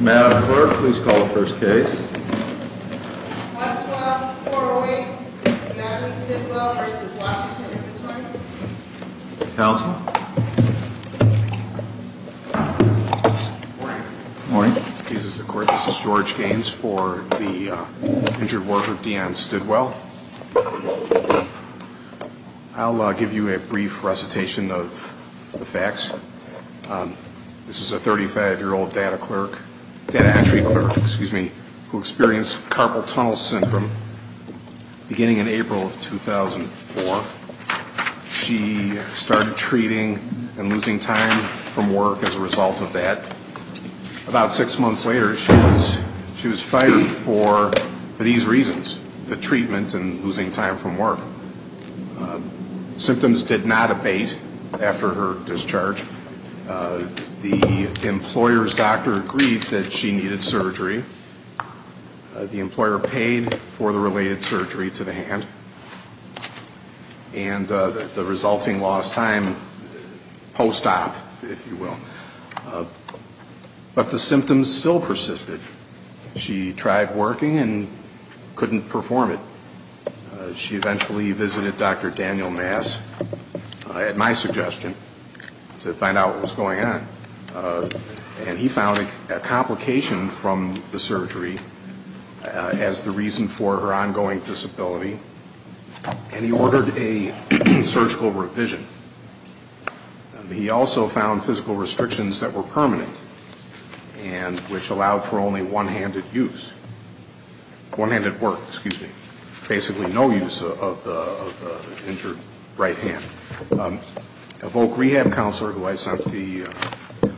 Madam Clerk, please call the first case. 1-12-408 Madeline Stidwell v. Washington Inventories Counsel Good morning. This is George Gaines for the injured worker, Dionne Stidwell. I'll give you a brief recitation of the facts. This is a 35-year-old data entry clerk who experienced carpal tunnel syndrome beginning in April of 2004. She started treating and losing time from work as a result of that. About six months later, she was fired for these reasons, the treatment and losing time from work. Symptoms did not abate after her discharge. The employer's doctor agreed that she needed surgery. The employer paid for the related surgery to the hand. And the resulting lost time post-op, if you will. But the symptoms still persisted. She tried working and couldn't perform it. She eventually visited Dr. Daniel Mass at my suggestion to find out what was going on. And he found a complication from the surgery as the reason for her ongoing disability. And he ordered a surgical revision. He also found physical restrictions that were permanent and which allowed for only one-handed use. One-handed work, excuse me. Basically no use of the injured right hand. A voc rehab counselor who I sent the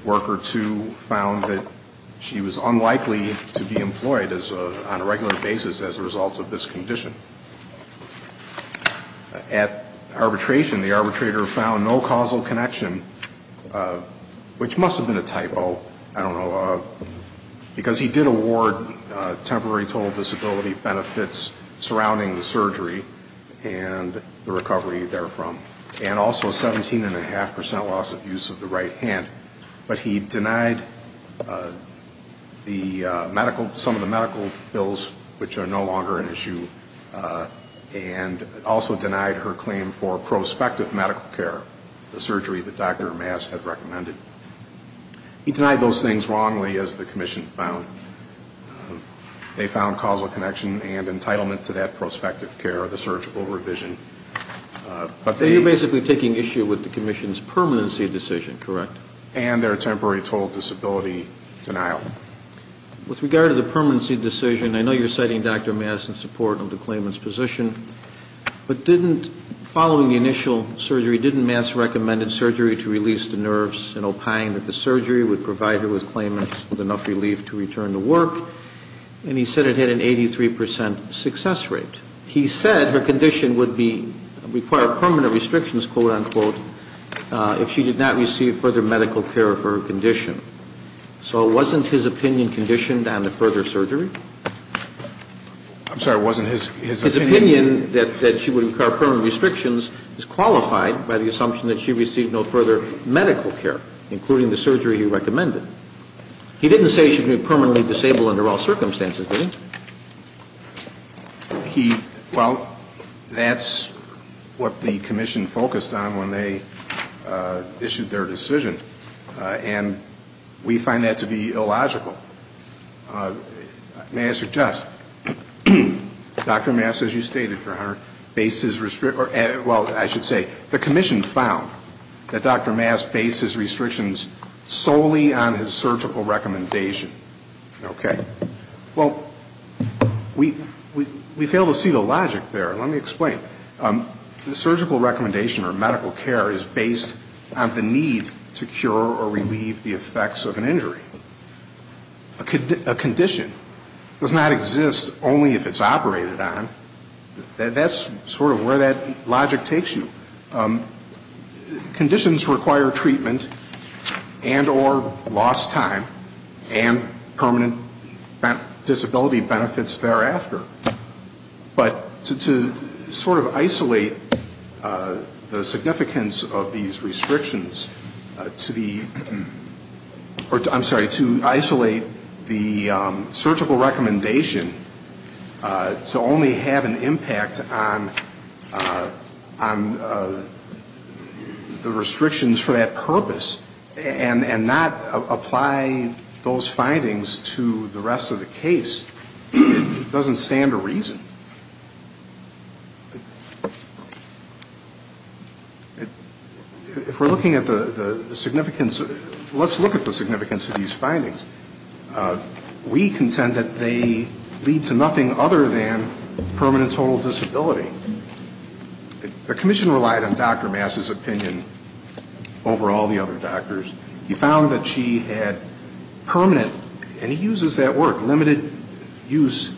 worker to found that she was unlikely to be employed on a regular basis as a result of this condition. At arbitration, the arbitrator found no causal connection, which must have been a typo. I don't know. Because he did award temporary total disability benefits surrounding the surgery and the recovery therefrom. And also a 17.5% loss of use of the right hand. But he denied some of the medical bills, which are no longer an issue. And also denied her claim for prospective medical care, the surgery that Dr. Mass had recommended. He denied those things wrongly, as the commission found. They found causal connection and entitlement to that prospective care, the surgical revision. So you're basically taking issue with the commission's permanency decision, correct? And their temporary total disability denial. With regard to the permanency decision, I know you're citing Dr. Mass in support of the claimant's position. But didn't, following the initial surgery, didn't Mass recommend a surgery to release the nerves, and opined that the surgery would provide her with claimants with enough relief to return to work. And he said it had an 83% success rate. He said her condition would require permanent restrictions, quote-unquote, if she did not receive further medical care for her condition. So wasn't his opinion conditioned on the further surgery? I'm sorry, wasn't his opinion? His opinion that she would require permanent restrictions is qualified by the assumption that she received no further medical care, including the surgery he recommended. He didn't say she would be permanently disabled under all circumstances, did he? He, well, that's what the commission focused on when they issued their decision. And we find that to be illogical. May I suggest? Dr. Mass, as you stated, Your Honor, based his restrictions, well, I should say, the commission found that Dr. Mass based his restrictions solely on his surgical recommendation. Okay. Well, we fail to see the logic there. Let me explain. The surgical recommendation or medical care is based on the need to cure or relieve the effects of an injury. A condition does not exist only if it's operated on. That's sort of where that logic takes you. Conditions require treatment and or lost time and permanent disability benefits thereafter. But to sort of isolate the significance of these restrictions to the, I'm sorry, to isolate the surgical recommendation to only have an impact on the restrictions for that purpose and not apply those findings to the rest of the case, it doesn't stand to reason. If we're looking at the significance, let's look at the significance of these findings. We contend that they lead to nothing other than permanent total disability. The commission relied on Dr. Mass' opinion over all the other doctors. He found that she had permanent, and he uses that word, limited use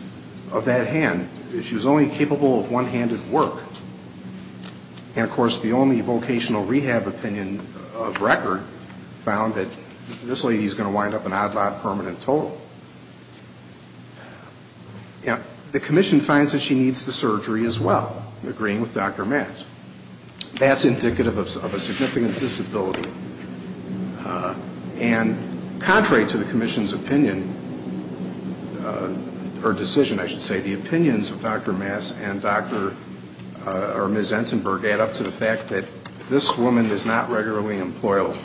of that hand. She was only capable of one-handed work. And, of course, the only vocational rehab opinion of record found that this lady is going to wind up in an odd, odd permanent total. The commission finds that she needs the surgery as well, agreeing with Dr. Mass. That's indicative of a significant disability. And contrary to the commission's opinion, or decision, I should say, the opinions of Dr. Mass and Dr. or Ms. Entenberg add up to the fact that this woman is not regularly employable.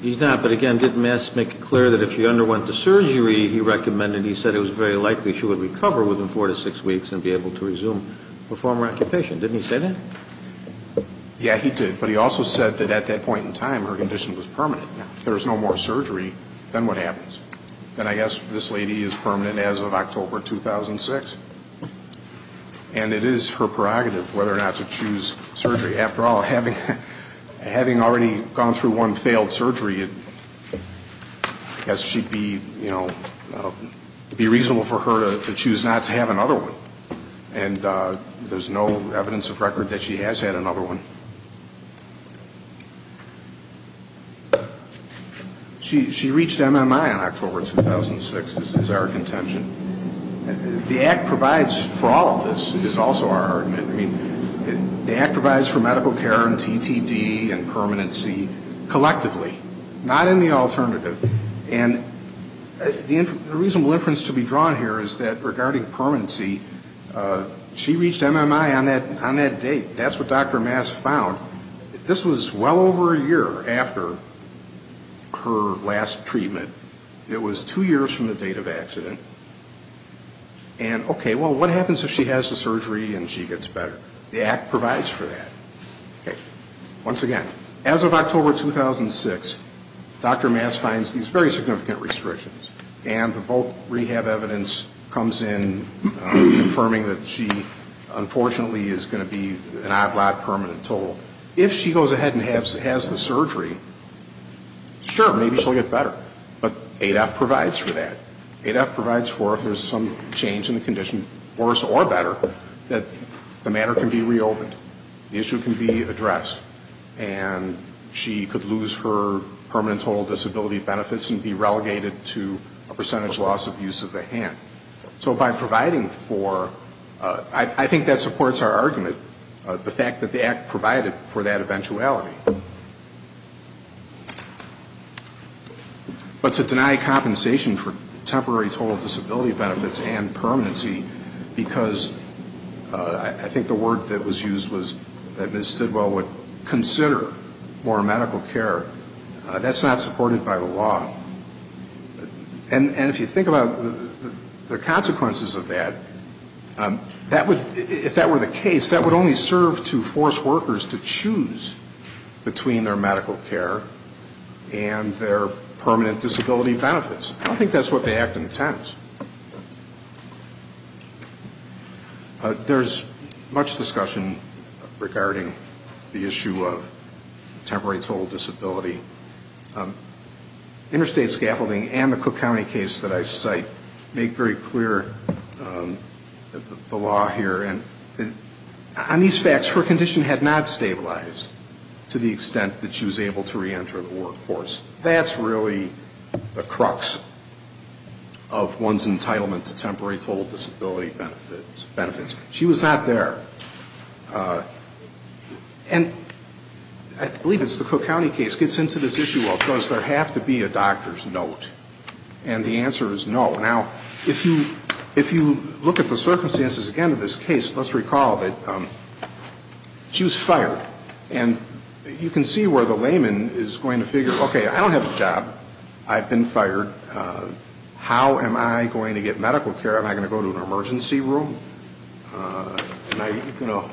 He's not, but again, didn't Mass make it clear that if she underwent the surgery he recommended, he said it was very likely she would recover within four to six weeks and be able to resume her former occupation. Didn't he say that? Yeah, he did. But he also said that at that point in time, her condition was permanent. There is no more surgery than what happens. And I guess this lady is permanent as of October 2006. And it is her prerogative whether or not to choose surgery. After all, having already gone through one failed surgery, I guess it would be reasonable for her to choose not to have another one. And there's no evidence of record that she has had another one. She reached MMI on October 2006, is our contention. The Act provides for all of this, is also our argument. I mean, the Act provides for medical care and TTD and permanency collectively, not in the alternative. And the reasonable inference to be drawn here is that regarding permanency, she reached MMI on that date. That's what Dr. Mass found. This was well over a year after her last treatment. And, okay, well, what happens if she has the surgery and she gets better? The Act provides for that. Okay. Once again, as of October 2006, Dr. Mass finds these very significant restrictions. And the voc rehab evidence comes in confirming that she, unfortunately, is going to be in an odd lot permanent total. If she goes ahead and has the surgery, sure, maybe she'll get better. But ADAPT provides for that. ADAPT provides for if there's some change in the condition, worse or better, that the matter can be reopened. The issue can be addressed. And she could lose her permanent total disability benefits and be relegated to a percentage loss of use of the hand. So by providing for, I think that supports our argument, the fact that the Act provided for that eventuality. But to deny compensation for temporary total disability benefits and permanency, because I think the word that was used was that Ms. Stidwell would consider more medical care, that's not supported by the law. And if you think about the consequences of that, that would, if that were the case, that would only serve to force workers to choose between their medical care and their permanent disability benefits. I don't think that's what the Act intends. There's much discussion regarding the issue of temporary total disability. Interstate Scaffolding and the Cook County case that I cite make very clear the law here. And on these facts, her condition had not stabilized to the extent that she was able to reenter the workforce. That's really the crux of one's entitlement to temporary total disability benefits. She was not there. And I believe it's the Cook County case gets into this issue of, does there have to be a doctor's note? And the answer is no. Now, if you look at the circumstances again of this case, let's recall that she was fired. And you can see where the layman is going to figure, okay, I don't have a job. I've been fired. How am I going to get medical care? Am I going to go to an emergency room? Am I going to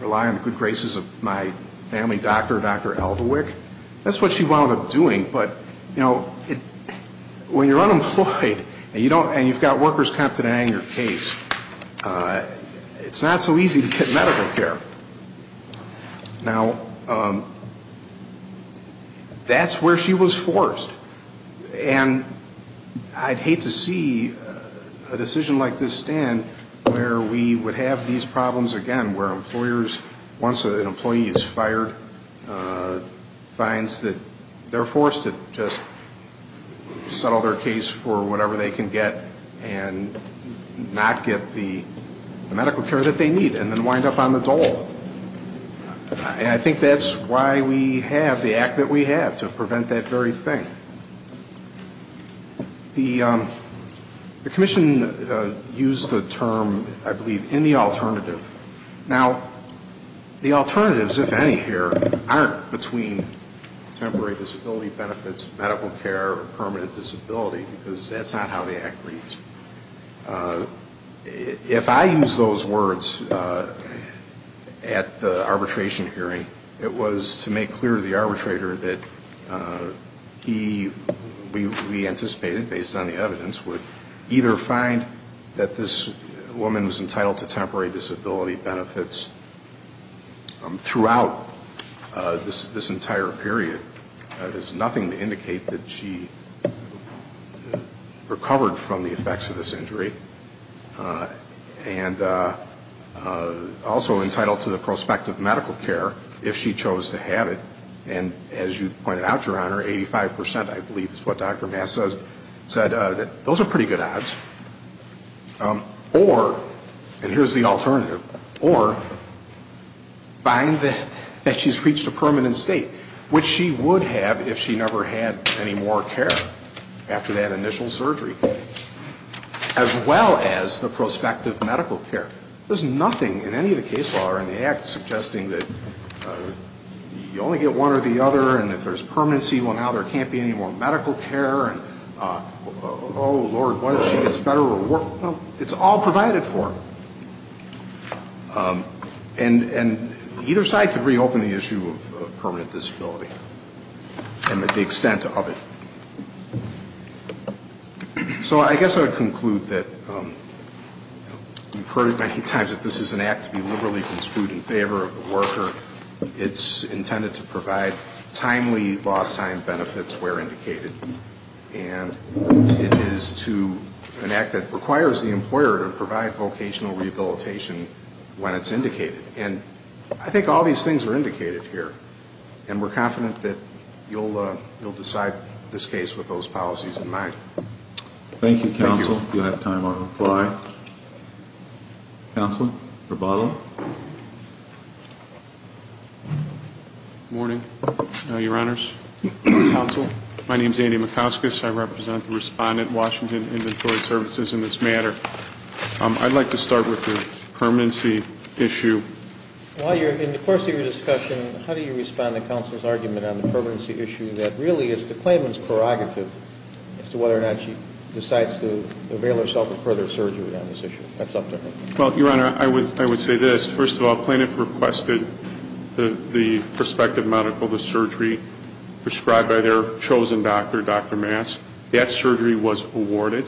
rely on the good graces of my family doctor, Dr. Eldewick? That's what she wound up doing. But, you know, when you're unemployed and you've got workers competent in your case, it's not so easy to get medical care. Now, that's where she was forced. And I'd hate to see a decision like this stand where we would have these problems again, where employers, once an employee is fired, finds that they're forced to just settle their case for whatever they can get and not get the medical care that they need and then wind up on the dole. And I think that's why we have the act that we have, to prevent that very thing. The commission used the term, I believe, in the alternative. Now, the alternatives, if any here, aren't between temporary disability benefits, medical care, or permanent disability, because that's not how the act reads. If I use those words at the arbitration hearing, it was to make clear to the arbitrator that he, we anticipated, based on the evidence, would either find that this woman was entitled to temporary disability benefits throughout this entire period. That is nothing to indicate that she recovered from the effects of this injury. And also entitled to the prospect of medical care, if she chose to have it. And as you pointed out, Your Honor, 85%, I believe, is what Dr. Massa said, that those are pretty good odds. Or, and here's the alternative, or find that she's reached a permanent state, which she would have if she never had any more care after that initial surgery, as well as the prospect of medical care. There's nothing in any of the case law or in the act suggesting that you only get one or the other, and if there's permanency, well, now there can't be any more medical care, and oh, Lord, what if she gets better or worse? It's all provided for. And either side could reopen the issue of permanent disability and the extent of it. So I guess I would conclude that you've heard it many times that this is an act to be liberally construed in favor of the worker. It's intended to provide timely lost time benefits where indicated. And it is an act that requires the employer to provide vocational rehabilitation when it's indicated. And I think all these things are indicated here, and we're confident that you'll decide this case with those policies in mind. Thank you, counsel. Do I have time on reply? Counsel? Rebalo? Good morning, Your Honors. Counsel, my name is Andy McCauskas. I represent the respondent, Washington Inventory Services, in this matter. I'd like to start with the permanency issue. While you're in the course of your discussion, how do you respond to counsel's argument on the permanency issue that really is the claimant's prerogative as to whether or not she decides to avail herself of further surgery on this issue? That's up to her. Well, Your Honor, I would say this. First of all, plaintiff requested the prospective medical, the surgery prescribed by their chosen doctor, Dr. Mass. That surgery was awarded.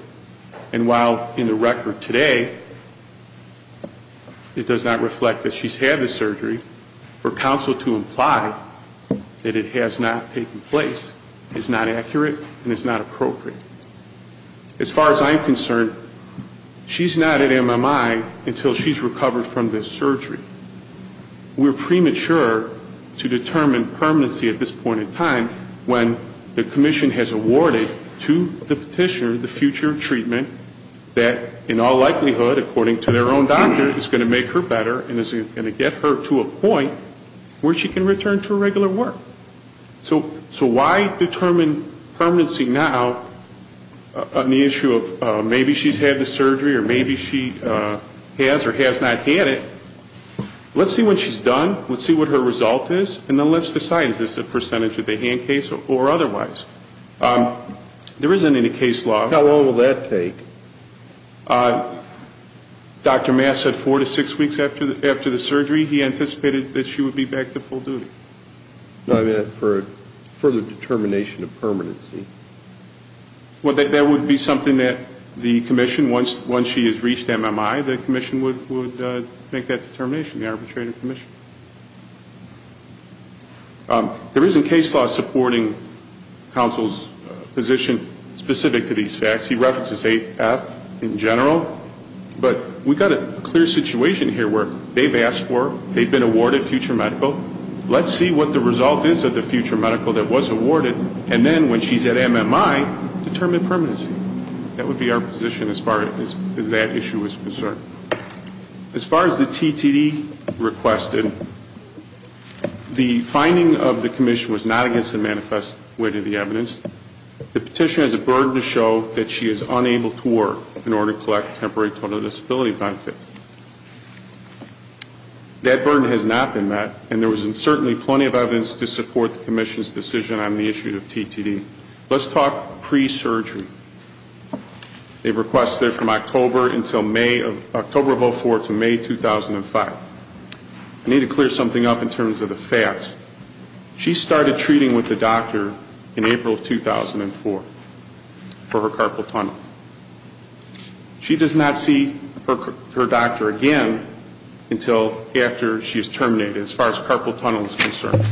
And while in the record today it does not reflect that she's had the surgery, for counsel to imply that it has not taken place is not accurate and is not appropriate. As far as I'm concerned, she's not at MMI until she's recovered from this surgery. We're premature to determine permanency at this point in time when the commission has awarded to the petitioner the future treatment that in all likelihood, according to their own doctor, is going to make her better and is going to get her to a point where she can return to her regular work. So why determine permanency now on the issue of maybe she's had the surgery or maybe she has or has not had it? Let's see when she's done, let's see what her result is, and then let's decide is this a percentage of the hand case or otherwise. There isn't any case law. How long will that take? Dr. Mass said four to six weeks after the surgery. He anticipated that she would be back to full duty. No, I meant for further determination of permanency. Well, that would be something that the commission, once she has reached MMI, the commission would make that determination, the arbitrator commission. There isn't case law supporting counsel's position specific to these facts. He references AF in general, but we've got a clear situation here where they've asked for, they've been awarded future medical. Let's see what the result is of the future medical that was awarded, and then when she's at MMI, determine permanency. That would be our position as far as that issue is concerned. As far as the TTD requested, the finding of the commission was not against the manifest way to the evidence. The petition has a burden to show that she is unable to work in order to collect temporary total disability benefits. That burden has not been met, and there was certainly plenty of evidence to support the commission's decision on the issue of TTD. Let's talk pre-surgery. They've requested it from October of 2004 to May 2005. I need to clear something up in terms of the facts. She started treating with the doctor in April of 2004 for her carpal tunnel. She does not see her doctor again until after she is terminated as far as carpal tunnel is concerned.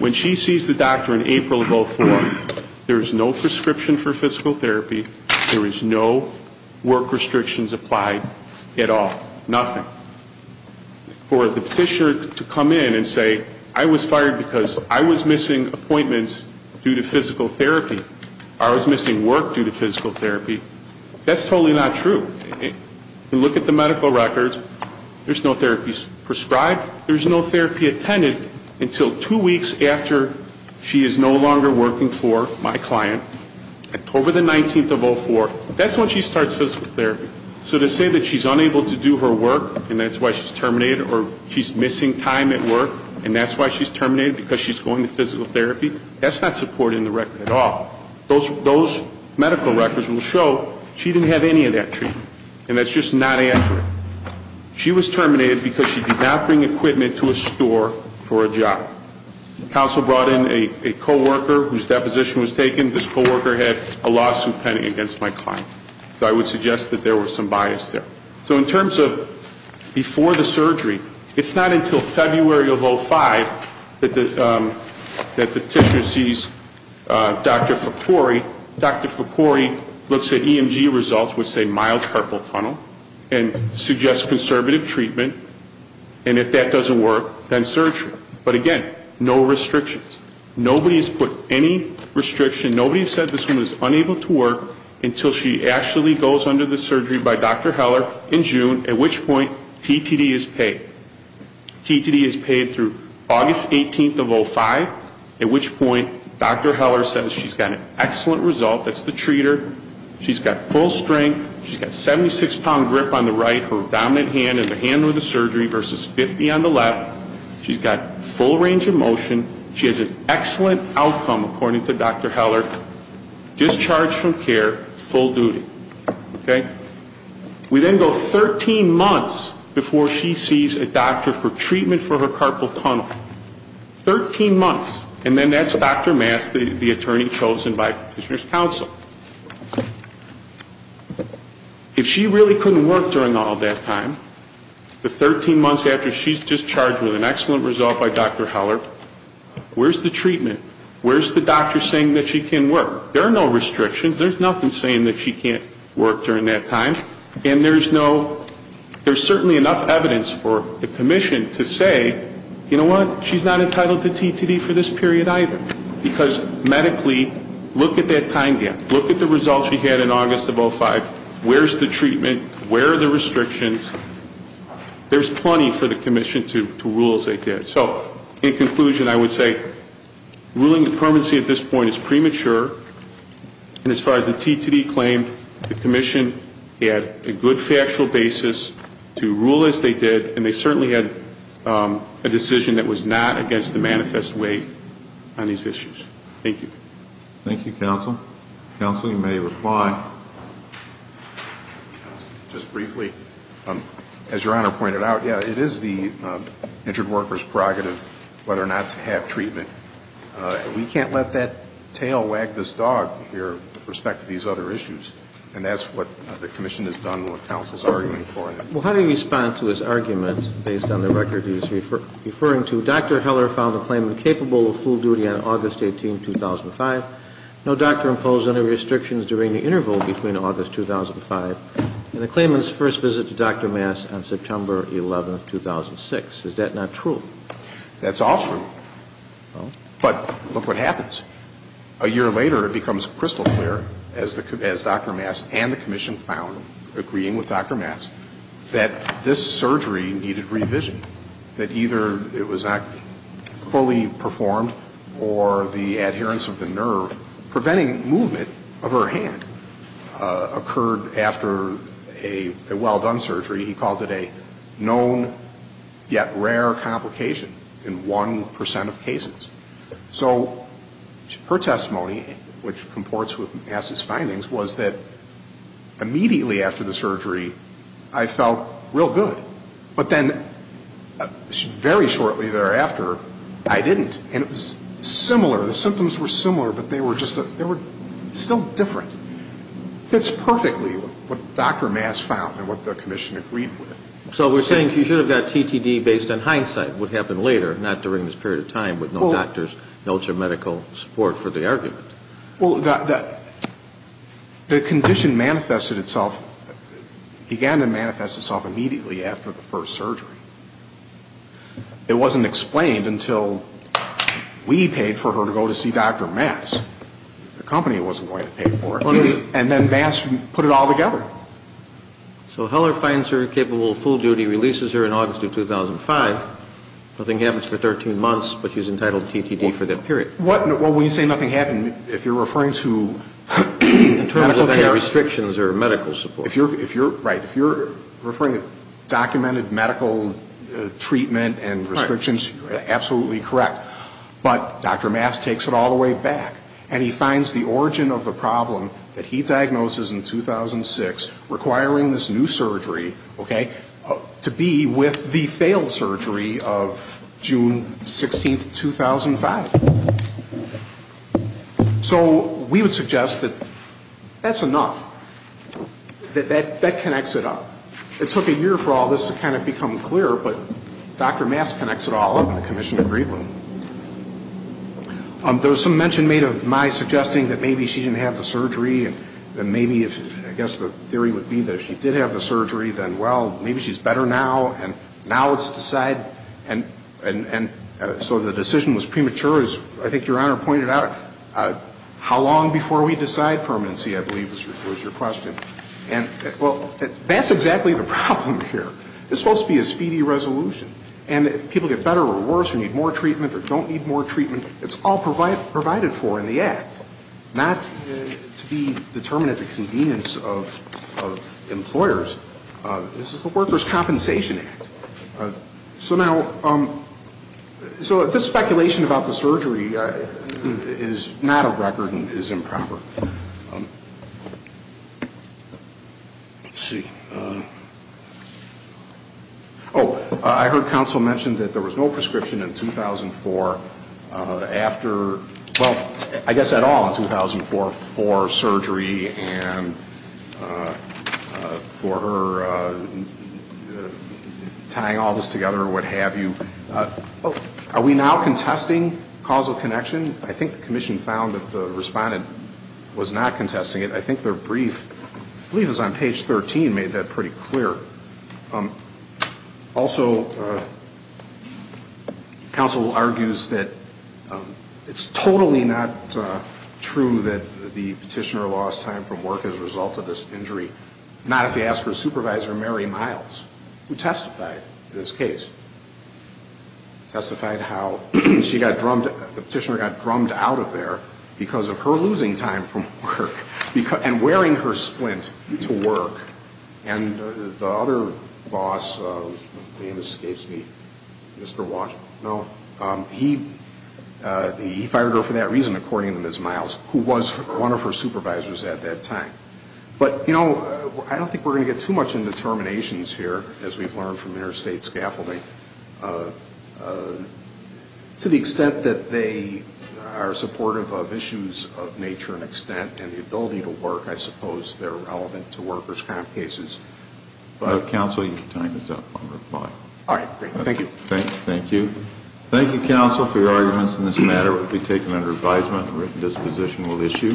When she sees the doctor in April of 2004, there is no prescription for physical therapy. There is no work restrictions applied at all, nothing. Now, for the petitioner to come in and say, I was fired because I was missing appointments due to physical therapy. I was missing work due to physical therapy. That's totally not true. Look at the medical records. There's no therapies prescribed. There's no therapy attended until two weeks after she is no longer working for my client, October the 19th of 2004. That's when she starts physical therapy. So to say that she's unable to do her work and that's why she's terminated or she's missing time at work and that's why she's terminated because she's going to physical therapy, that's not supported in the record at all. Those medical records will show she didn't have any of that treatment. And that's just not accurate. She was terminated because she did not bring equipment to a store for a job. Council brought in a coworker whose deposition was taken. This coworker had a lawsuit pending against my client. So I would suggest that there was some bias there. So in terms of before the surgery, it's not until February of 2005 that the petitioner sees Dr. Ficori. Dr. Ficori looks at EMG results, which say mild purple tunnel, and suggests conservative treatment. And if that doesn't work, then surgery. But again, no restrictions. Nobody has put any restriction. Nobody has said this woman is unable to work until she actually goes under the surgery by Dr. Heller in June, at which point TTD is paid. TTD is paid through August 18th of 2005, at which point Dr. Heller says she's got an excellent result. That's the treater. She's got full strength. She's got 76-pound grip on the right, her dominant hand in the hand with the surgery versus 50 on the left. She's got full range of motion. She has an excellent outcome, according to Dr. Heller, discharged from care, full duty. Okay? We then go 13 months before she sees a doctor for treatment for her carpal tunnel. Thirteen months. And then that's Dr. Mass, the attorney chosen by petitioner's counsel. If she really couldn't work during all that time, the 13 months after she's discharged with an excellent result by Dr. Heller, where's the treatment? Where's the doctor saying that she can work? There are no restrictions. There's nothing saying that she can't work during that time. And there's no ‑‑ there's certainly enough evidence for the commission to say, you know what? She's not entitled to TTD for this period either. Because medically, look at that time gap. Look at the results she had in August of 2005. Where's the treatment? Where are the restrictions? There's plenty for the commission to rule as they did. So in conclusion, I would say ruling the permanency at this point is premature. And as far as the TTD claim, the commission had a good factual basis to rule as they did. And they certainly had a decision that was not against the manifest way on these issues. Thank you. Thank you, counsel. Counsel, you may reply. Just briefly, as Your Honor pointed out, yeah, it is the injured worker's prerogative whether or not to have treatment. We can't let that tail wag this dog here with respect to these other issues. And that's what the commission has done and what counsel is arguing for. Well, how do you respond to his argument based on the record he's referring to? Dr. Heller found the claim incapable of full duty on August 18, 2005. No doctor imposed any restrictions during the interval between August 2005 and the claimant's first visit to Dr. Maas on September 11, 2006. Is that not true? That's all true. But look what happens. A year later, it becomes crystal clear, as Dr. Maas and the commission found, agreeing with Dr. Maas, that this surgery needed revision. That either it was not fully performed or the adherence of the nerve preventing movement of her hand occurred after a well-done surgery. He called it a known yet rare complication in 1 percent of cases. So her testimony, which comports with Maas's findings, was that immediately after the surgery, I felt real good. But then very shortly thereafter, I didn't. And it was similar. The symptoms were similar, but they were just still different. It fits perfectly with what Dr. Maas found and what the commission agreed with. So we're saying she should have got TTD based on hindsight, what happened later, not during this period of time with no doctor's notes or medical support for the argument. Well, the condition manifested itself, began to manifest itself immediately after the first surgery. It wasn't explained until we paid for her to go to see Dr. Maas. The company wasn't going to pay for it. And then Maas put it all together. So Heller finds her capable of full duty, releases her in August of 2005. Nothing happens for 13 months, but she's entitled to TTD for that period. Well, when you say nothing happened, if you're referring to medical care. Medical care restrictions or medical support. Right. If you're referring to documented medical treatment and restrictions, you're absolutely correct. But Dr. Maas takes it all the way back, and he finds the origin of the problem that he diagnoses in 2006 requiring this new surgery, okay, to be with the failed surgery of June 16, 2005. So we would suggest that that's enough, that that connects it up. It took a year for all this to kind of become clear, but Dr. Maas connects it all up in the commission agreement. There was some mention made of Mais suggesting that maybe she didn't have the surgery and maybe, I guess the theory would be that if she did have the surgery, then, well, maybe she's better now, and now let's decide. And so the decision was premature, as I think Your Honor pointed out. How long before we decide permanency, I believe, was your question. And, well, that's exactly the problem here. It's supposed to be a speedy resolution. And if people get better or worse or need more treatment or don't need more treatment, it's all provided for in the Act, not to be determined at the convenience of employers. This is the Workers' Compensation Act. So now, so this speculation about the surgery is not a record and is improper. Let's see. Oh, I heard counsel mention that there was no prescription in 2004 after, well, I guess at all in 2004 for surgery and for her tying all this together or what have you. Are we now contesting causal connection? I think the commission found that the respondent was not contesting it. I think their brief, I believe it was on page 13, made that pretty clear. Also, counsel argues that it's totally not true that the petitioner lost time from work as a result of this injury, not if you ask her supervisor, Mary Miles, who testified in this case, testified how she got drummed, the petitioner got drummed out of there because of her losing time from work and wearing her splint to work. And the other boss, his name escapes me, Mr. Washington, no, he fired her for that reason, according to Ms. Miles, who was one of her supervisors at that time. But, you know, I don't think we're going to get too much into terminations here, as we've learned from interstate scaffolding. To the extent that they are supportive of issues of nature and extent and the ability to work, I suppose they're relevant to workers' comp cases. Counsel, your time is up on reply. All right, great. Thank you. Thank you. Thank you, counsel, for your arguments in this matter. It will be taken under advisement. A written disposition will issue.